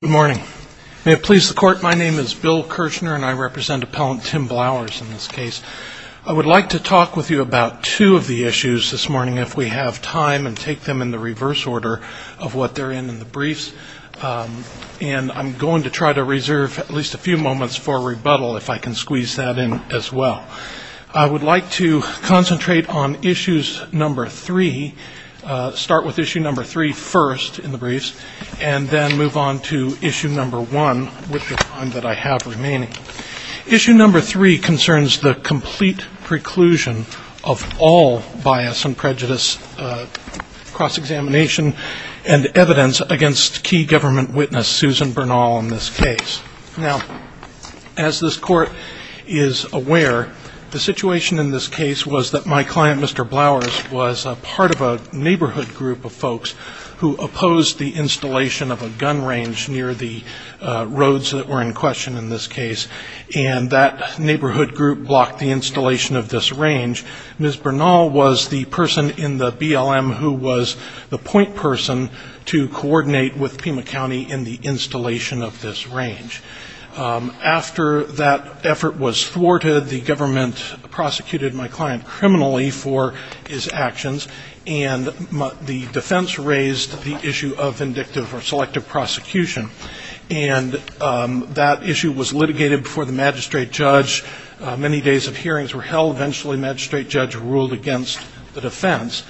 Good morning. May it please the Court, my name is Bill Kirchner and I represent Appellant Tim Blowers in this case. I would like to talk with you about two of the issues this morning, if we have time, and take them in the reverse order of what they're in in the briefs. And I'm going to try to reserve at least a few moments for rebuttal, if I can squeeze that in as well. Now, I would like to concentrate on issues number three, start with issue number three first in the briefs, and then move on to issue number one with the time that I have remaining. Issue number three concerns the complete preclusion of all bias and prejudice cross-examination and evidence against key government witness Susan Bernal in this case. Now, as this Court is aware, the situation in this case was that my client, Mr. Blowers, was a part of a neighborhood group of folks who opposed the installation of a gun range near the roads that were in question in this case, and that neighborhood group blocked the installation of this range. Ms. Bernal was the person in the BLM who was the point person to coordinate with Pima County in the installation of this range. After that effort was thwarted, the government prosecuted my client criminally for his actions, and the defense raised the issue of vindictive or selective prosecution, and that issue was litigated before the magistrate judge. Many days of hearings were held. Eventually, the magistrate judge ruled against the defense.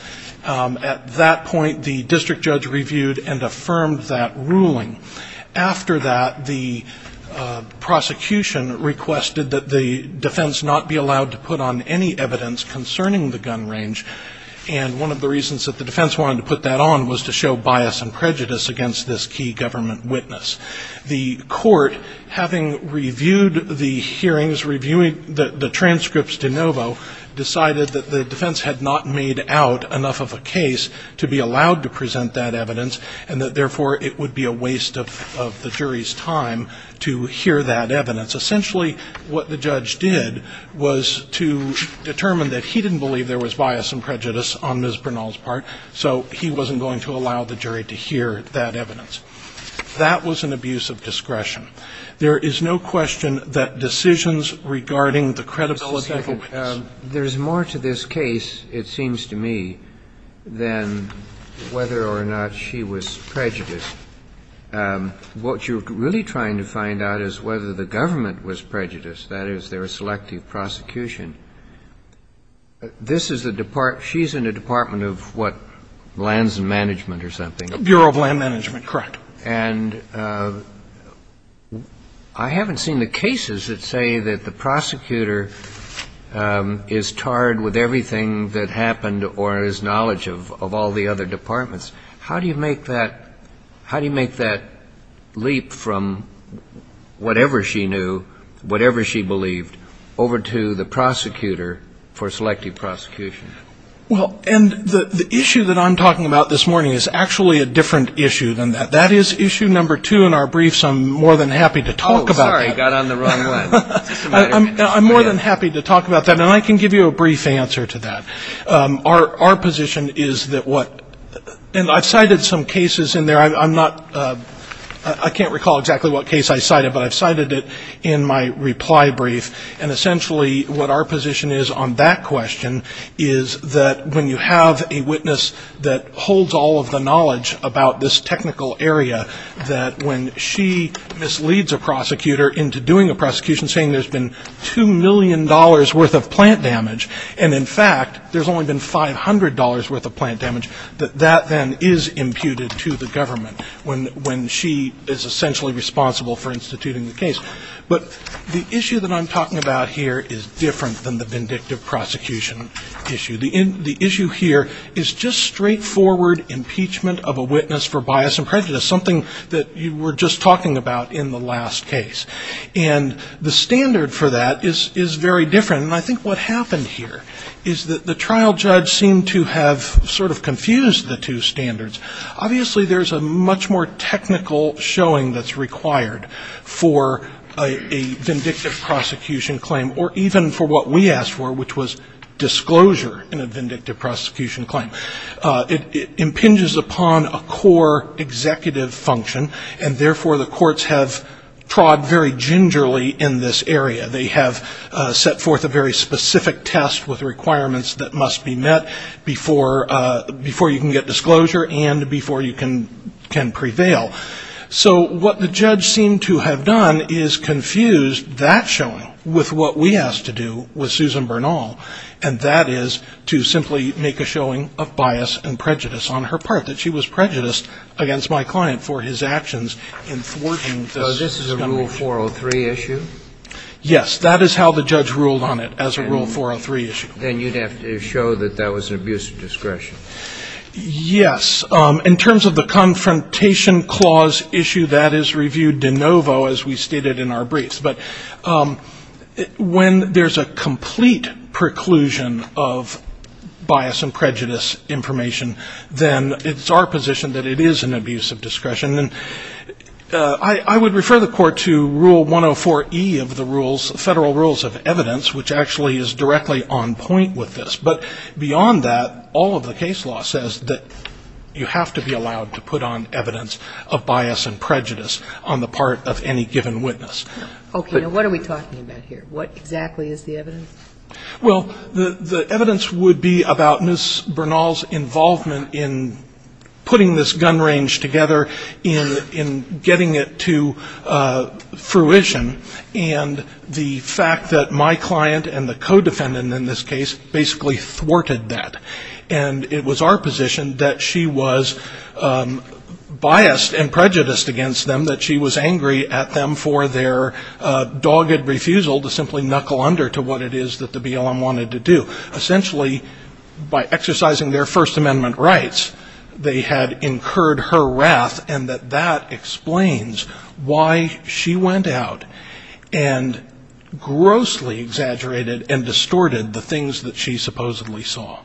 At that point, the district judge reviewed and affirmed that ruling. After that, the prosecution requested that the defense not be allowed to put on any evidence concerning the gun range, and one of the reasons that the defense wanted to put that on was to show bias and prejudice against this key government witness. The court, having reviewed the hearings, reviewing the transcripts de novo, decided that the defense had not made out enough of a case to be allowed to present that evidence, and that, therefore, it would be a waste of the jury's time to hear that evidence. Essentially, what the judge did was to determine that he didn't believe there was bias and prejudice on Ms. Bernal's part, so he wasn't going to allow the jury to hear that evidence. That was an abuse of discretion. There is no question that decisions regarding the credibility of a witness. Kennedy. There's more to this case, it seems to me, than whether or not she was prejudiced. What you're really trying to find out is whether the government was prejudiced, that is, their selective prosecution. This is the department of what, lands and management or something? Bureau of Land Management, correct. And I haven't seen the cases that say that the prosecutor is tarred with everything that happened or has knowledge of all the other departments. How do you make that leap from whatever she knew, whatever she believed, over to the prosecutor for selective prosecution? Well, and the issue that I'm talking about this morning is actually a different issue than that. That is issue number two in our brief, so I'm more than happy to talk about that. Oh, sorry, I got on the wrong one. I'm more than happy to talk about that, and I can give you a brief answer to that. Our position is that what, and I've cited some cases in there. I'm not, I can't recall exactly what case I cited, but I've cited it in my reply brief, and essentially what our position is on that question is that when you have a witness that holds all of the knowledge about this technical area, that when she misleads a prosecutor into doing a prosecution, saying there's been $2 million worth of plant damage, and in fact there's only been $500 worth of plant damage, that that then is imputed to the government when she is essentially responsible for instituting the case. But the issue that I'm talking about here is different than the vindictive prosecution issue. The issue here is just straightforward impeachment of a witness for bias and prejudice, something that you were just talking about in the last case, and the standard for that is very different, and I think what happened here is that the trial judge seemed to have sort of confused the two standards. Obviously there's a much more technical showing that's required for a vindictive prosecution claim, or even for what we asked for, which was disclosure in a vindictive prosecution claim. It impinges upon a core executive function, and therefore the courts have trod very gingerly in this area. They have set forth a very specific test with requirements that must be met before you can get disclosure, and before you can prevail. So what the judge seemed to have done is confused that showing with what we asked to do with Susan Bernal, and that is to simply make a showing of bias and prejudice on her part, that she was prejudiced against my client for his actions in thwarting this. So this is a Rule 403 issue? Yes. That is how the judge ruled on it, as a Rule 403 issue. Then you'd have to show that that was an abuse of discretion. Yes. In terms of the Confrontation Clause issue, that is reviewed de novo, as we stated in our briefs. But when there's a complete preclusion of bias and prejudice information, then it's our position that it is an abuse of discretion. And I would refer the Court to Rule 104E of the Federal Rules of Evidence, which actually is directly on point with this. But beyond that, all of the case law says that you have to be allowed to put on evidence of bias and prejudice on the part of any given witness. Okay. Now, what are we talking about here? What exactly is the evidence? Well, the evidence would be about Ms. Bernal's involvement in putting this gun range together, in getting it to fruition, and the fact that my client and the co-defendant in this case basically thwarted that. And it was our position that she was biased and prejudiced against them, that she was angry at them for their dogged refusal to simply knuckle under to what it is that the BLM wanted to do. Essentially, by exercising their First Amendment rights, they had incurred her wrath, and that that explains why she went out and grossly exaggerated and distorted the things that she supposedly saw.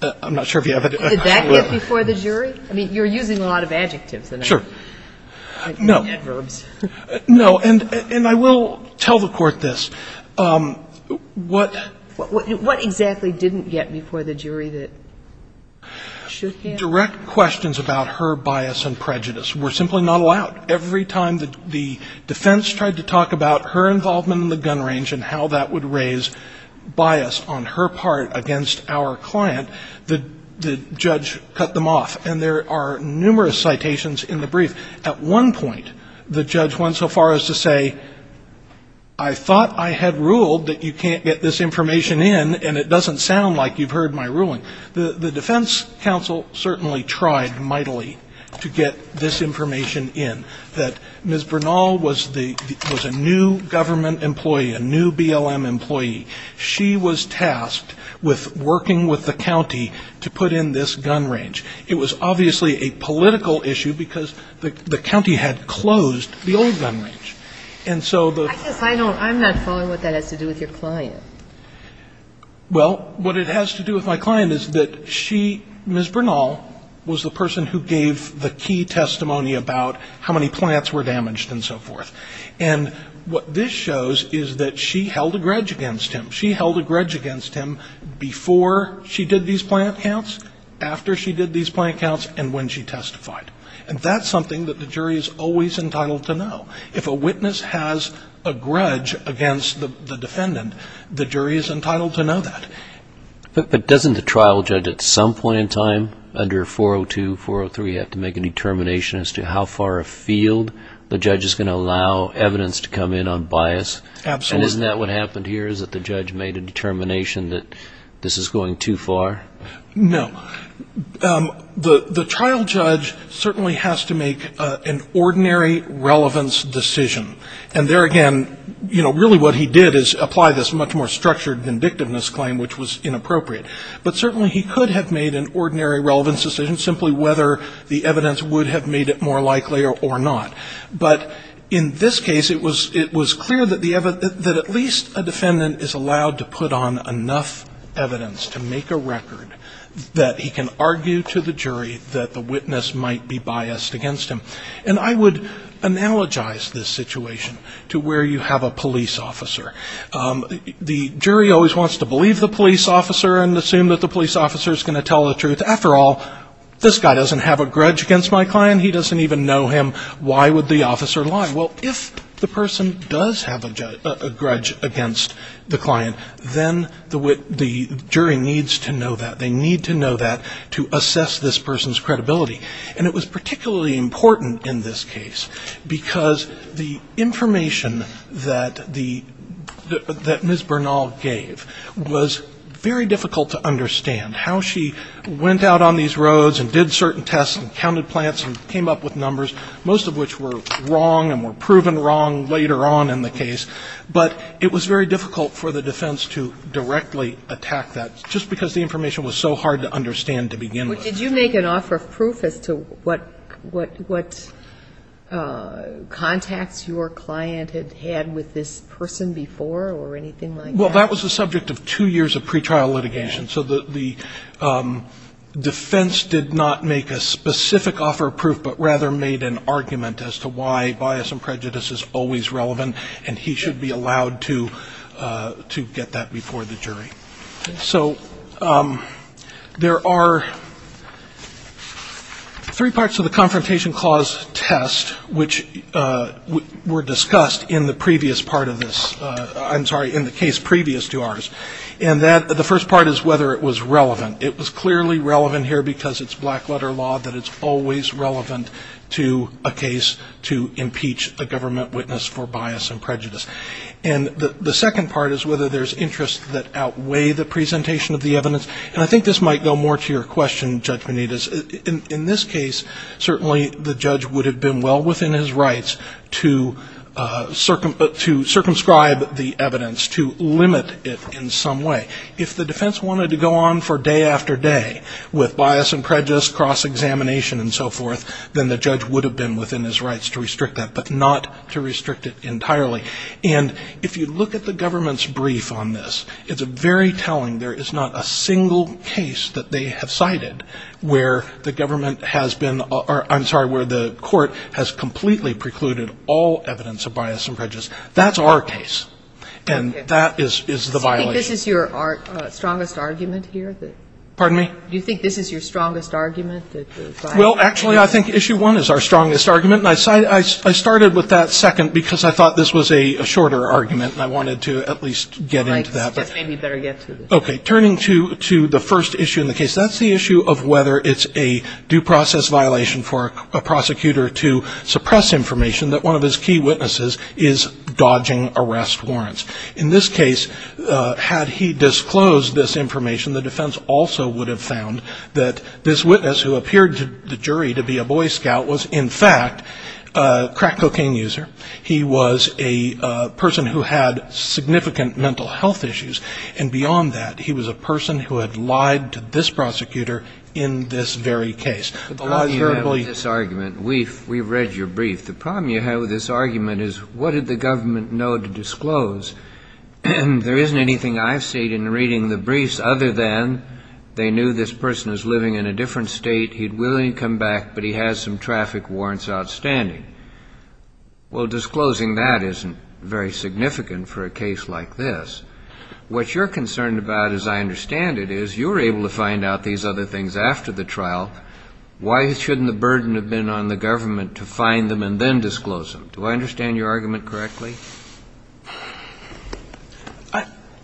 I'm not sure if you have a question. Did that get before the jury? I mean, you're using a lot of adjectives. Sure. No. Adverbs. No. And I will tell the Court this. What? What exactly didn't get before the jury that shook you? Direct questions about her bias and prejudice were simply not allowed. Every time the defense tried to talk about her involvement in the gun range and how that would raise bias on her part against our client, the judge cut them off. And there are numerous citations in the brief. At one point, the judge went so far as to say, I thought I had ruled that you can't get this information in, and it doesn't sound like you've heard my ruling. The defense counsel certainly tried mightily to get this information in, that Ms. Bernal was a new government employee, a new BLM employee. She was tasked with working with the county to put in this gun range. It was obviously a political issue because the county had closed the old gun range. And so the ---- I guess I don't ---- I'm not following what that has to do with your client. Well, what it has to do with my client is that she, Ms. Bernal, was the person who gave the key testimony about how many plants were damaged and so forth. And what this shows is that she held a grudge against him. She held a grudge against him before she did these plant counts, after she did these plant counts, and when she testified. And that's something that the jury is always entitled to know. If a witness has a grudge against the defendant, the jury is entitled to know that. But doesn't the trial judge at some point in time, under 402, 403, have to make a determination as to how far afield the judge is going to allow evidence to come in on bias? Absolutely. And isn't that what happened here, is that the judge made a determination that this is going too far? No. The trial judge certainly has to make an ordinary relevance decision. And there again, you know, really what he did is apply this much more structured vindictiveness claim, which was inappropriate. But certainly he could have made an ordinary relevance decision, simply whether the evidence would have made it more likely or not. But in this case, it was clear that at least a defendant is allowed to put on enough evidence to make a record that he can argue to the jury that the witness might be biased against him. And I would analogize this situation to where you have a police officer. The jury always wants to believe the police officer and assume that the police officer is going to tell the truth. After all, this guy doesn't have a grudge against my client. He doesn't even know him. Why would the officer lie? Well, if the person does have a grudge against the client, then the jury needs to know that. They need to know that to assess this person's credibility. And it was particularly important in this case, because the information that Ms. Bernal gave was very difficult to understand. How she went out on these roads and did certain tests and counted plants and came up with numbers, most of which were wrong and were proven wrong later on in the case. But it was very difficult for the defense to directly attack that, just because the information was so hard to understand to begin with. But did you make an offer of proof as to what contacts your client had had with this person before or anything like that? Well, that was the subject of two years of pretrial litigation. So the defense did not make a specific offer of proof, but rather made an argument as to why bias and prejudice is always relevant, and he should be allowed to get that before the jury. So there are three parts to the Confrontation Clause test, which were discussed in the previous part of this ‑‑ I'm sorry, in the case previous to ours. And the first part is whether it was relevant. It was clearly relevant here because it's black letter law that it's always relevant to a case to impeach a government witness for bias and prejudice. And the second part is whether there's interests that outweigh the presentation of the evidence. And I think this might go more to your question, Judge Benitez. In this case, certainly the judge would have been well within his rights to circumscribe the evidence, to limit it in some way. If the defense wanted to go on for day after day with bias and prejudice, cross-examination and so forth, then the judge would have been within his rights to restrict that, but not to restrict it entirely. And if you look at the government's brief on this, it's very telling. There is not a single case that they have cited where the government has been ‑‑ I'm sorry, where the court has completely precluded all evidence of bias and prejudice. That's our case. And that is the violation. Do you think this is your strongest argument here? Pardon me? Do you think this is your strongest argument? Well, actually, I think issue one is our strongest argument. And I started with that second because I thought this was a shorter argument and I wanted to at least get into that. All right. This just made me better get to this. Okay. Turning to the first issue in the case, that's the issue of whether it's a due process violation for a prosecutor to suppress information that one of his key witnesses is dodging arrest warrants. In this case, had he disclosed this information, the defense also would have found that this witness who appeared to the jury to be a Boy Scout was, in fact, a crack cocaine user. He was a person who had significant mental health issues. And beyond that, he was a person who had lied to this prosecutor in this very case. We've read your brief. The problem you have with this argument is what did the government know to disclose? There isn't anything I've seen in reading the briefs other than they knew this person is living in a different state, he'd willingly come back, but he has some traffic warrants outstanding. Well, disclosing that isn't very significant for a case like this. What you're concerned about, as I understand it, is you were able to find out these other things after the trial. Why shouldn't the burden have been on the government to find them and then disclose them? Do I understand your argument correctly?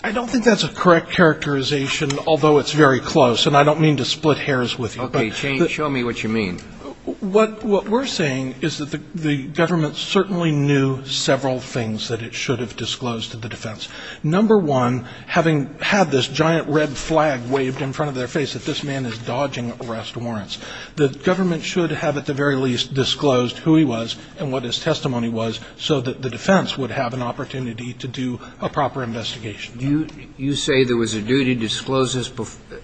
I don't think that's a correct characterization, although it's very close. And I don't mean to split hairs with you. Okay, show me what you mean. What we're saying is that the government certainly knew several things that it should have disclosed to the defense. Number one, having had this giant red flag waved in front of their face that this man is dodging arrest warrants, the government should have at the very least disclosed who he was and what his testimony was so that the defense would have an opportunity to do a proper investigation. You say there was a duty to disclose this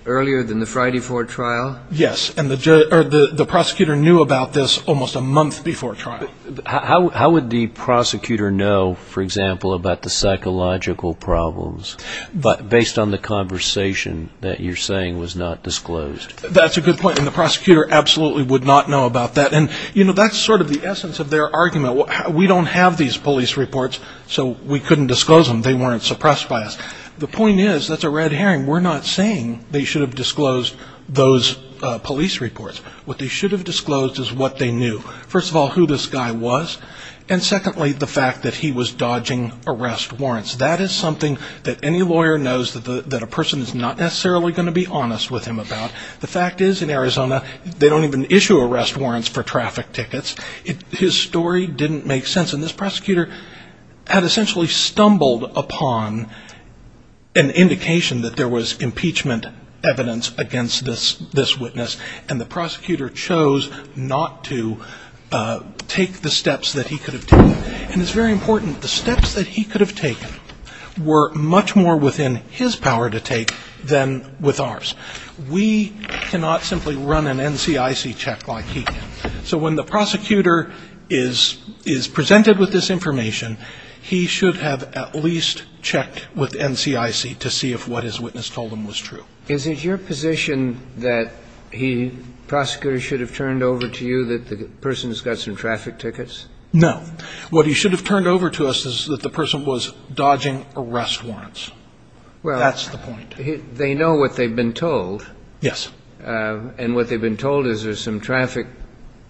earlier than the Friday 4 trial? Yes, and the prosecutor knew about this almost a month before trial. How would the prosecutor know, for example, about the psychological problems, based on the conversation that you're saying was not disclosed? That's a good point, and the prosecutor absolutely would not know about that. And, you know, that's sort of the essence of their argument. We don't have these police reports, so we couldn't disclose them. They weren't suppressed by us. The point is, that's a red herring. We're not saying they should have disclosed those police reports. What they should have disclosed is what they knew. First of all, who this guy was, and secondly, the fact that he was dodging arrest warrants. That is something that any lawyer knows that a person is not necessarily going to be honest with him about. The fact is, in Arizona, they don't even issue arrest warrants for traffic tickets. His story didn't make sense, and this prosecutor had essentially stumbled upon an indication that there was impeachment evidence against this witness, and the prosecutor chose not to take the steps that he could have taken. And it's very important, the steps that he could have taken were much more within his power to take than with ours. We cannot simply run an NCIC check like he did. So when the prosecutor is presented with this information, he should have at least checked with NCIC to see if what his witness told him was true. Is it your position that he, prosecutor, should have turned over to you that the person's got some traffic tickets? No. What he should have turned over to us is that the person was dodging arrest warrants. That's the point. They know what they've been told. Yes. And what they've been told is there's some traffic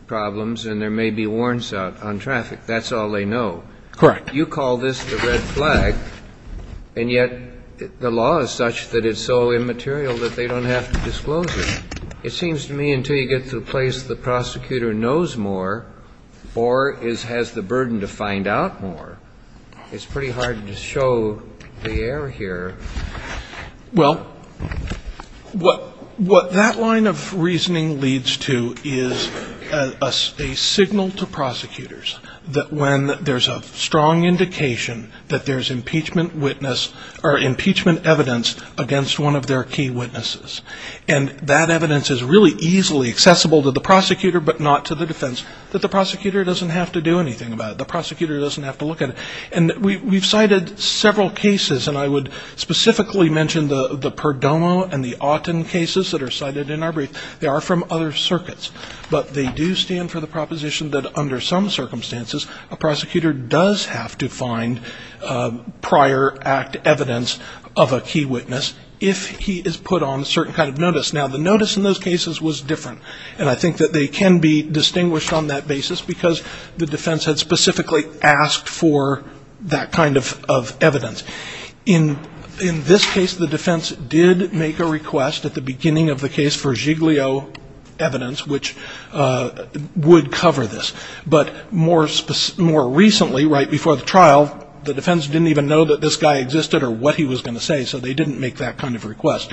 problems and there may be warrants out on traffic. That's all they know. Correct. You call this the red flag, and yet the law is such that it's so immaterial that they don't have to disclose it. It seems to me until you get to the place the prosecutor knows more or has the burden to find out more, it's pretty hard to show the error here. Well, what that line of reasoning leads to is a signal to prosecutors that when there's a strong indication that there's impeachment witness or impeachment evidence against one of their key witnesses, and that evidence is really easily accessible to the prosecutor but not to the defense, that the prosecutor doesn't have to do anything about it. The prosecutor doesn't have to look at it. And we've cited several cases, and I would specifically mention the Perdomo and the Auten cases that are cited in our brief. They are from other circuits, but they do stand for the proposition that under some circumstances, a prosecutor does have to find prior act evidence of a key witness if he is put on a certain kind of notice. Now, the notice in those cases was different, and I think that they can be distinguished on that basis because the defense had specifically asked for that kind of evidence. In this case, the defense did make a request at the beginning of the case for Giglio evidence, which would cover this. But more recently, right before the trial, the defense didn't even know that this guy existed or what he was going to say, so they didn't make that kind of request.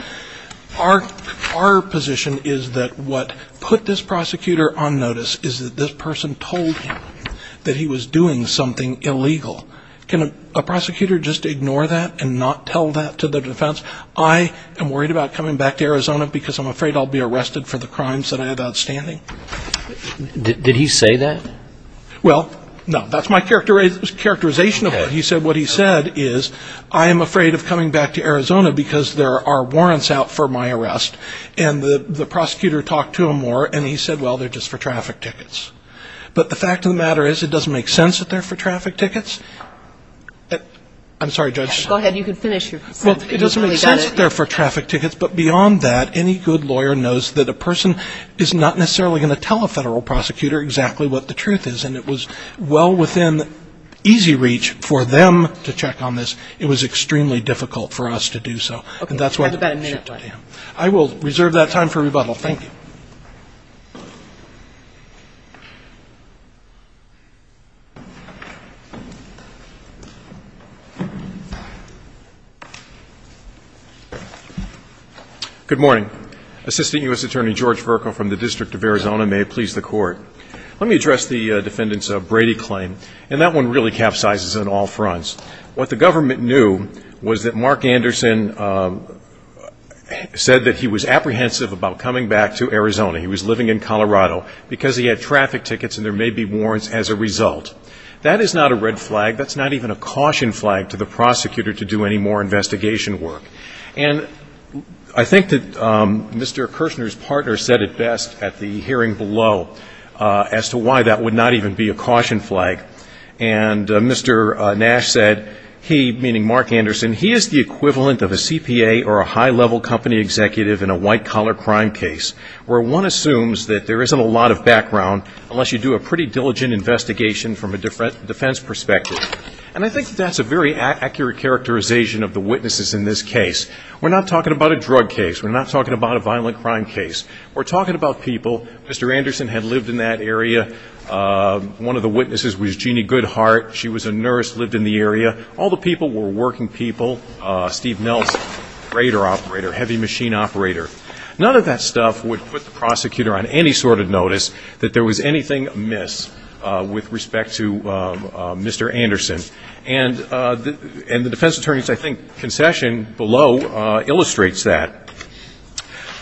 Our position is that what put this prosecutor on notice is that this person told him that he was doing something illegal. Can a prosecutor just ignore that and not tell that to the defense? I am worried about coming back to Arizona because I'm afraid I'll be arrested for the crimes that I have outstanding. Did he say that? Well, no. That's my characterization of what he said. I am afraid of coming back to Arizona because there are warrants out for my arrest, and the prosecutor talked to him more, and he said, well, they're just for traffic tickets. But the fact of the matter is it doesn't make sense that they're for traffic tickets. I'm sorry, Judge. Go ahead. You can finish your sentence. It doesn't make sense that they're for traffic tickets, but beyond that, any good lawyer knows that a person is not necessarily going to tell a federal prosecutor exactly what the truth is, and it was well within easy reach for them to check on this. It was extremely difficult for us to do so. Okay. I will reserve that time for rebuttal. Thank you. Good morning. Assistant U.S. Attorney George Vercoe from the District of Arizona may please the Court. Let me address the defendants' Brady claim, and that one really capsizes on all fronts. What the government knew was that Mark Anderson said that he was apprehensive about coming back to Arizona. He was living in Colorado because he had traffic tickets and there may be warrants as a result. That is not a red flag. That's not even a caution flag to the prosecutor to do any more investigation work. And I think that Mr. Kirshner's partner said it best at the hearing below as to why that would not even be a caution flag. And Mr. Nash said he, meaning Mark Anderson, he is the equivalent of a CPA or a high-level company executive in a white-collar crime case, where one assumes that there isn't a lot of background unless you do a pretty diligent investigation from a defense perspective. And I think that that's a very accurate characterization of the witnesses in this case. We're not talking about a drug case. We're not talking about a violent crime case. We're talking about people. Mr. Anderson had lived in that area. One of the witnesses was Jeannie Goodhart. She was a nurse, lived in the area. All the people were working people. Steve Nelson, radar operator, heavy machine operator. None of that stuff would put the prosecutor on any sort of notice that there was anything amiss with respect to Mr. Anderson. And the defense attorney's, I think, concession below illustrates that.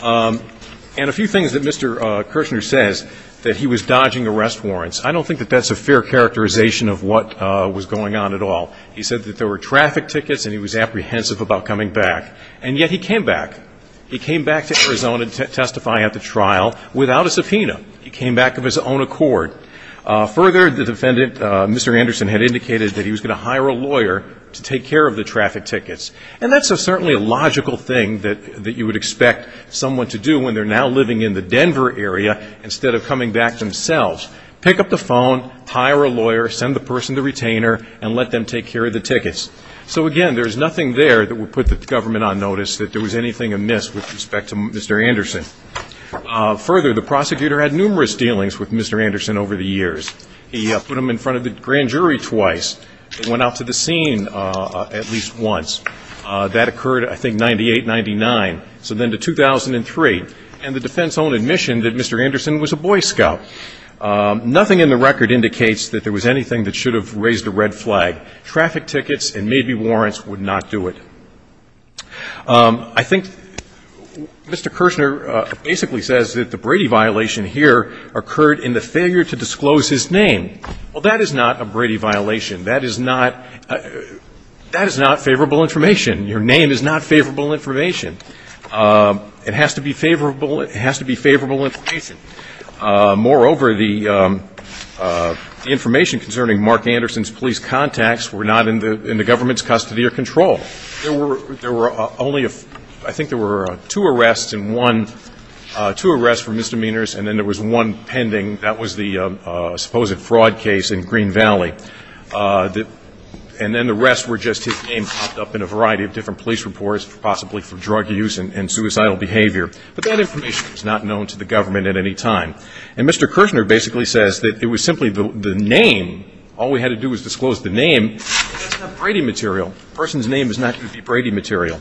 And a few things that Mr. Kirshner says, that he was dodging arrest warrants, I don't think that that's a fair characterization of what was going on at all. He said that there were traffic tickets and he was apprehensive about coming back. And yet he came back. He came back to Arizona to testify at the trial without a subpoena. He came back of his own accord. Further, the defendant, Mr. Anderson, had indicated that he was going to hire a lawyer to take care of the traffic tickets. And that's certainly a logical thing that you would expect someone to do when they're now living in the Denver area instead of coming back themselves. Pick up the phone, hire a lawyer, send the person to retainer, and let them take care of the tickets. So, again, there's nothing there that would put the government on notice that there was anything amiss with respect to Mr. Anderson. Further, the prosecutor had numerous dealings with Mr. Anderson over the years. He put him in front of the grand jury twice. He went out to the scene at least once. That occurred, I think, in 98, 99, so then to 2003. And the defense owned admission that Mr. Anderson was a Boy Scout. Nothing in the record indicates that there was anything that should have raised a red flag. Traffic tickets and maybe warrants would not do it. I think Mr. Kirshner basically says that the Brady violation here occurred in the failure to disclose his name. Well, that is not a Brady violation. That is not favorable information. Your name is not favorable information. It has to be favorable information. Moreover, the information concerning Mark Anderson's police contacts were not in the government's custody or control. There were only a few. I think there were two arrests and one, two arrests for misdemeanors, and then there was one pending. That was the supposed fraud case in Green Valley. And then the rest were just his name popped up in a variety of different police reports, possibly for drug use and suicidal behavior. But that information was not known to the government at any time. And Mr. Kirshner basically says that it was simply the name. All we had to do was disclose the name, and that's not Brady material. A person's name is not going to be Brady material.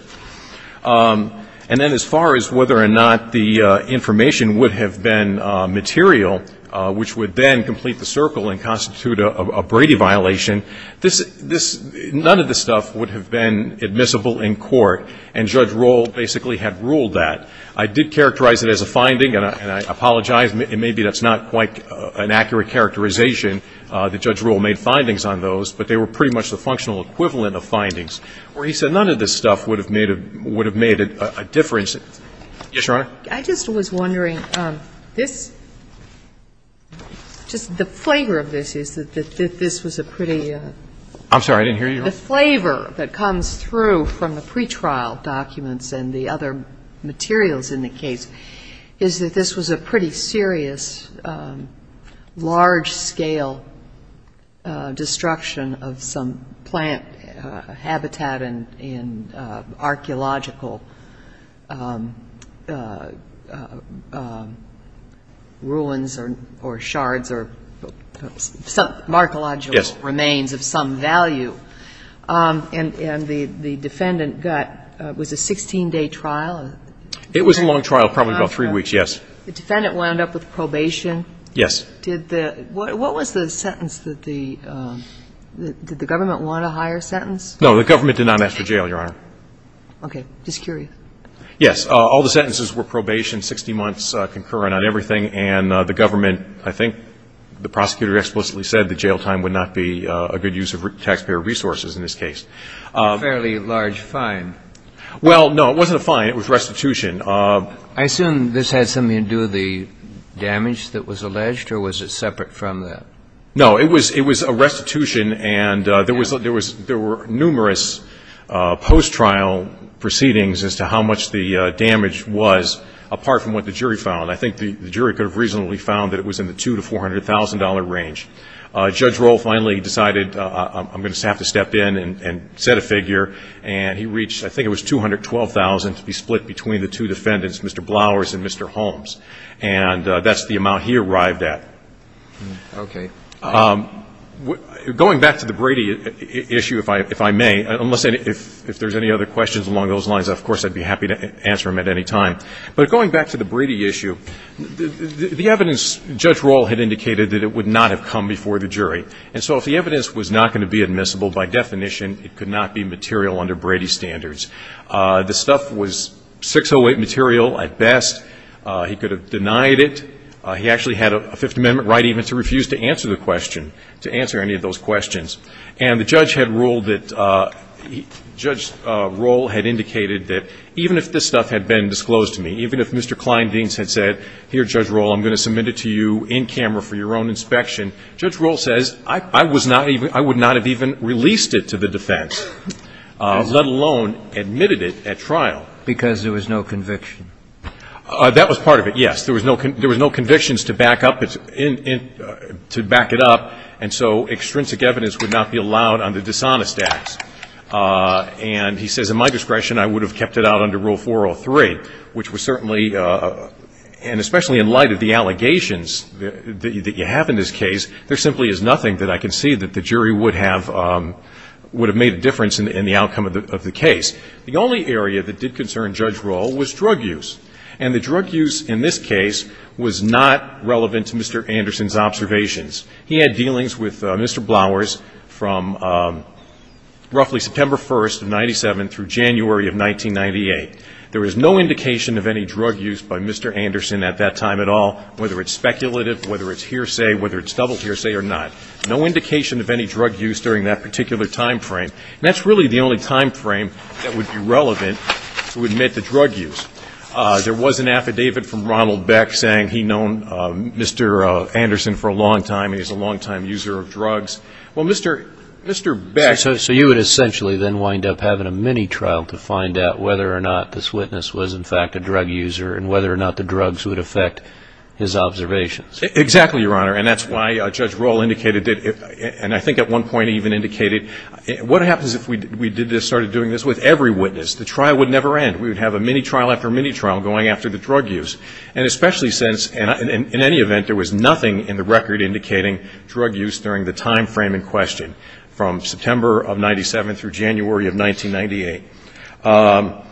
And then as far as whether or not the information would have been material, which would then complete the circle and constitute a Brady violation, none of this stuff would have been admissible in court, and Judge Roll basically had ruled that. I did characterize it as a finding, and I apologize. Maybe that's not quite an accurate characterization that Judge Roll made findings on those, but they were pretty much the functional equivalent of findings, where he said none of this stuff would have made a difference. Yes, Your Honor. I just was wondering, this, just the flavor of this is that this was a pretty. I'm sorry. I didn't hear you. The flavor that comes through from the pretrial documents and the other materials in the case is that this was a pretty serious, large-scale destruction of some plant habitat and archaeological ruins or shards or some archaeological remains of some value. And the defendant got, was it a 16-day trial? It was a long trial, probably about three weeks, yes. The defendant wound up with probation? Yes. Did the, what was the sentence that the, did the government want a higher sentence? No, the government did not ask for jail, Your Honor. Okay. Just curious. Yes. All the sentences were probation, 60 months concurrent on everything, and the government, I think the prosecutor explicitly said that jail time would not be a good use of taxpayer resources in this case. A fairly large fine. Well, no, it wasn't a fine. It was restitution. I assume this had something to do with the damage that was alleged, or was it separate from that? No, it was a restitution, and there were numerous post-trial proceedings as to how much the damage was, apart from what the jury found. I think the jury could have reasonably found that it was in the $200,000 to $400,000 range. Judge Rohl finally decided, I'm going to have to step in and set a figure, and he reached, I think it was $212,000 to be split between the two defendants, Mr. Blowers and Mr. Holmes. And that's the amount he arrived at. Okay. Going back to the Brady issue, if I may, unless there's any other questions along those lines, of course I'd be happy to answer them at any time. But going back to the Brady issue, the evidence, Judge Rohl had indicated that it would not have come before the jury. And so if the evidence was not going to be admissible by definition, it could not be material under Brady standards. The stuff was 608 material at best. He could have denied it. He actually had a Fifth Amendment right even to refuse to answer the question, to answer any of those questions. And the judge had ruled that he – Judge Rohl had indicated that even if this stuff had been disclosed to me, even if Mr. Klein-Dienz had said, here, Judge Rohl, I'm going to submit it to you in camera for your own inspection, Judge Rohl says, I was not even – I would not have even released it to the defense, let alone admitted it at trial. Because there was no conviction. That was part of it, yes. There was no convictions to back up – to back it up. And so extrinsic evidence would not be allowed under dishonest acts. And he says, at my discretion, I would have kept it out under Rule 403, which was certainly – and especially in light of the allegations that you have in this case, there simply is nothing that I can see that the jury would have made a difference in the outcome of the case. The only area that did concern Judge Rohl was drug use. And the drug use in this case was not relevant to Mr. Anderson's observations. He had dealings with Mr. Blowers from roughly September 1st of 97 through January of 1998. There was no indication of any drug use by Mr. Anderson at that time at all, whether it's speculative, whether it's hearsay, whether it's double hearsay or not. No indication of any drug use during that particular timeframe. And that's really the only timeframe that would be relevant to admit the drug use. There was an affidavit from Ronald Beck saying he'd known Mr. Anderson for a long time and he's a longtime user of drugs. Well, Mr. Beck – So you would essentially then wind up having a mini-trial to find out whether or not this witness was, in fact, a drug user and whether or not the drugs would affect his observations. Exactly, Your Honor. And that's why Judge Rohl indicated that – and I think at one point he even indicated, what happens if we started doing this with every witness? The trial would never end. We would have a mini-trial after mini-trial going after the drug use. And especially since, in any event, there was nothing in the record indicating drug use during the timeframe in question, from September of 97 through January of 1998.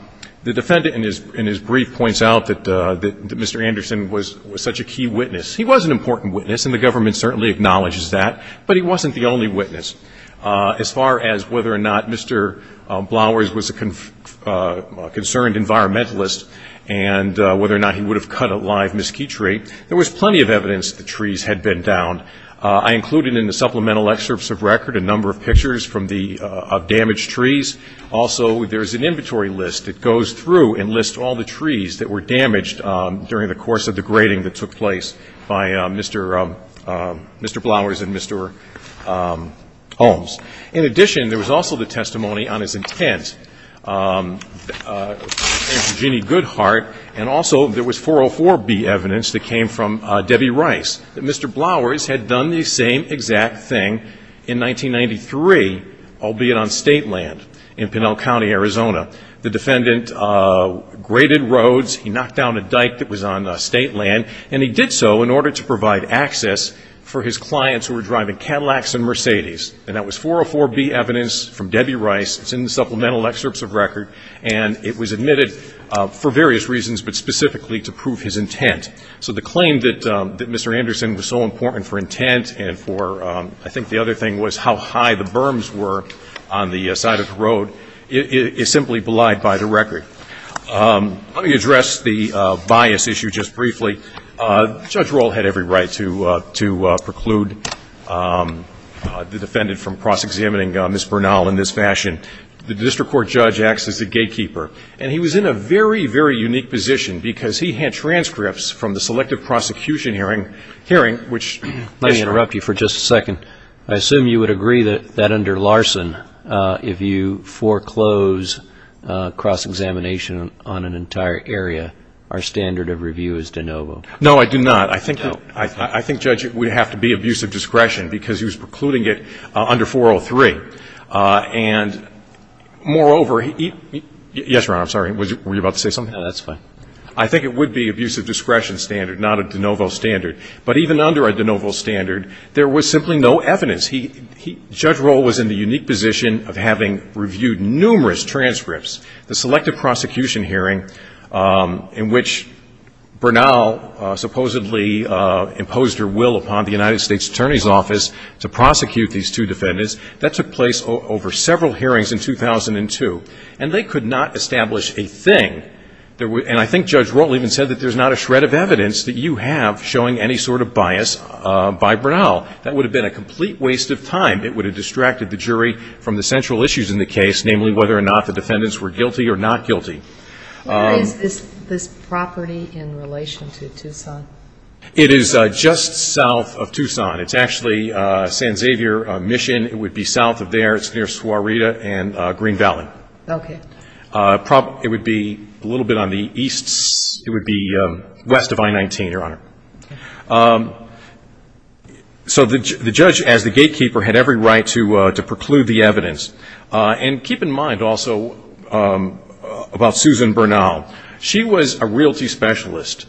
The defendant in his brief points out that Mr. Anderson was such a key witness. He was an important witness, and the government certainly acknowledges that, but he wasn't the only witness. As far as whether or not Mr. Blowers was a concerned environmentalist and whether or not he would have cut a live mesquite tree, there was plenty of evidence that the trees had been downed. I included in the supplemental excerpts of record a number of pictures of damaged trees. Also, there is an inventory list that goes through and lists all the trees that were damaged during the course of the grading that took place by Mr. Blowers and Mr. Holmes. In addition, there was also the testimony on his intent, and to Jeannie Goodhart, and also there was 404B evidence that came from Debbie Rice, that Mr. Blowers had done the same exact thing in 1993, albeit on state land in Pinell County, Arizona. The defendant graded roads. He knocked down a dike that was on state land, and he did so in order to provide access for his clients who were driving Cadillacs and Mercedes, and that was 404B evidence from Debbie Rice. It's in the supplemental excerpts of record, and it was admitted for various reasons but specifically to prove his intent. So the claim that Mr. Anderson was so important for intent and for I think the other thing was how high the berms were on the side of the road is simply belied by the record. Let me address the bias issue just briefly. Judge Rohl had every right to preclude the defendant from cross-examining Ms. Bernal in this fashion. The district court judge acts as the gatekeeper, and he was in a very, very unique position because he had transcripts from the selective prosecution hearing, which Mr. Rohl- Let me interrupt you for just a second. I assume you would agree that under Larson, if you foreclose cross-examination on an entire area, our standard of review is de novo. No, I do not. I think, Judge, it would have to be abusive discretion because he was precluding it under 403. And moreover, yes, Your Honor, I'm sorry. Were you about to say something? No, that's fine. I think it would be abusive discretion standard, not a de novo standard. But even under a de novo standard, there was simply no evidence. Judge Rohl was in the unique position of having reviewed numerous transcripts. The selective prosecution hearing in which Bernal supposedly imposed her will upon the United States Attorney's Office to prosecute these two defendants, that took place over several hearings in 2002. And they could not establish a thing. And I think Judge Rohl even said that there's not a shred of evidence that you have showing any sort of bias by Bernal. That would have been a complete waste of time. It would have distracted the jury from the central issues in the case, namely whether or not the defendants were guilty or not guilty. Where is this property in relation to Tucson? It is just south of Tucson. It's actually San Xavier Mission. It would be south of there. It's near Suareta and Green Valley. Okay. It would be a little bit on the east. It would be west of I-19, Your Honor. So the judge, as the gatekeeper, had every right to preclude the evidence. And keep in mind also about Susan Bernal. She was a realty specialist.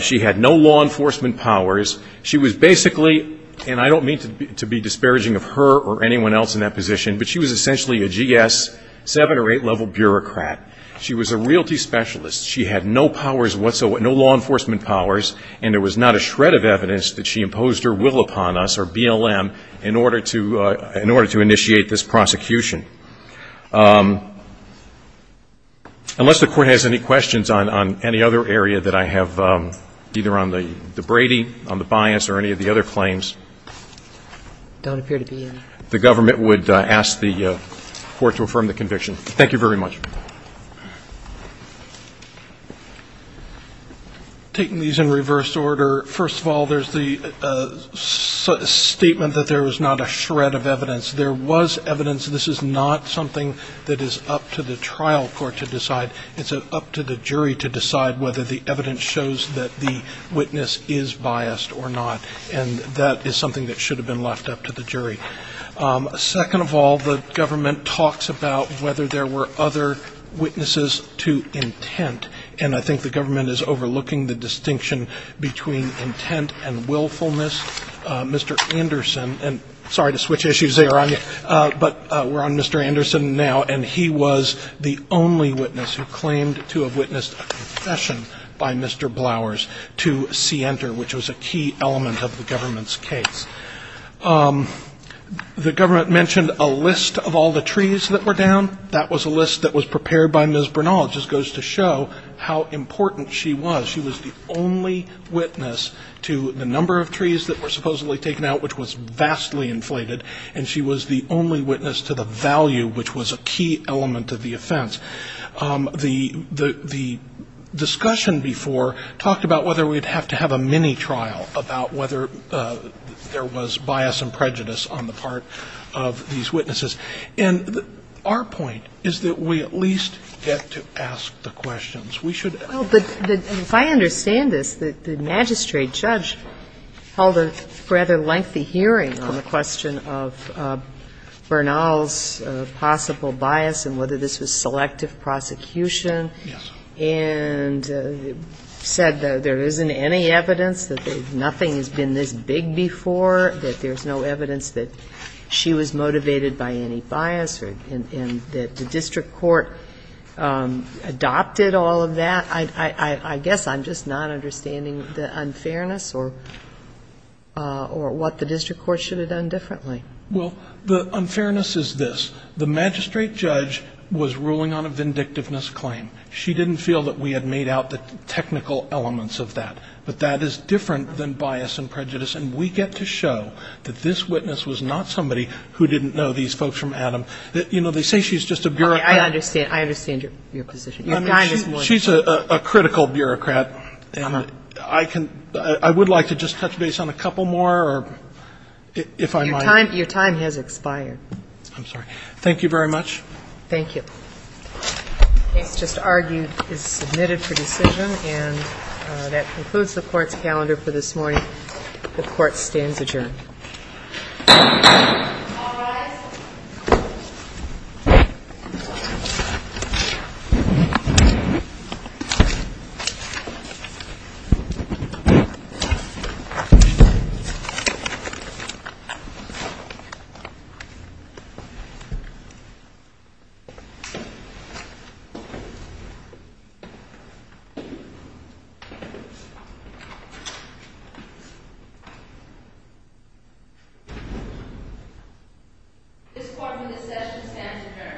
She had no law enforcement powers. She was basically, and I don't mean to be disparaging of her or anyone else in that position, but she was essentially a GS, seven- or eight-level bureaucrat. She was a realty specialist. She had no powers whatsoever, no law enforcement powers, and there was not a shred of evidence that she imposed her will upon us, or BLM, in order to initiate this prosecution. Unless the Court has any questions on any other area that I have, either on the Brady, on the bias, or any of the other claims. There don't appear to be any. The government would ask the Court to affirm the conviction. Thank you very much. Taking these in reverse order, first of all, there's the statement that there was not a shred of evidence. There was evidence. This is not something that is up to the trial court to decide. It's up to the jury to decide whether the evidence shows that the witness is biased or not, and that is something that should have been left up to the jury. Second of all, the government talks about whether there were other witnesses to intent, and I think the government is overlooking the distinction between intent and willfulness. Mr. Anderson, and sorry to switch issues there on you, but we're on Mr. Anderson now, and he was the only witness who claimed to have witnessed a confession by Mr. Blowers to Sienter, which was a key element of the government's case. The government mentioned a list of all the trees that were down. That was a list that was prepared by Ms. Bernal. It just goes to show how important she was. She was the only witness to the number of trees that were supposedly taken out, which was vastly inflated, and she was the only witness to the value, which was a key element of the offense. The discussion before talked about whether we would have to have a mini-trial about whether there was bias and prejudice on the part of these witnesses. And our point is that we at least get to ask the questions. We should ask the questions. Well, but if I understand this, the magistrate judge held a rather lengthy hearing on the question of Bernal's possible bias and whether this was selective prosecution and said that there isn't any evidence, that nothing has been this big before, that there's no evidence that she was motivated by any bias and that the district court adopted all of that. I guess I'm just not understanding the unfairness or what the district court should have done differently. Well, the unfairness is this. The magistrate judge was ruling on a vindictiveness claim. She didn't feel that we had made out the technical elements of that. But that is different than bias and prejudice, and we get to show that this witness was not somebody who didn't know these folks from Adam. You know, they say she's just a bureaucrat. I understand. I understand your position. I mean, she's a critical bureaucrat, and I would like to just touch base on a couple more, or if I might. Your time has expired. I'm sorry. Thank you very much. Thank you. Case just argued is submitted for decision, and that concludes the court's calendar for this morning. The court stands adjourned. All rise. This court in this session stands adjourned. Thank you.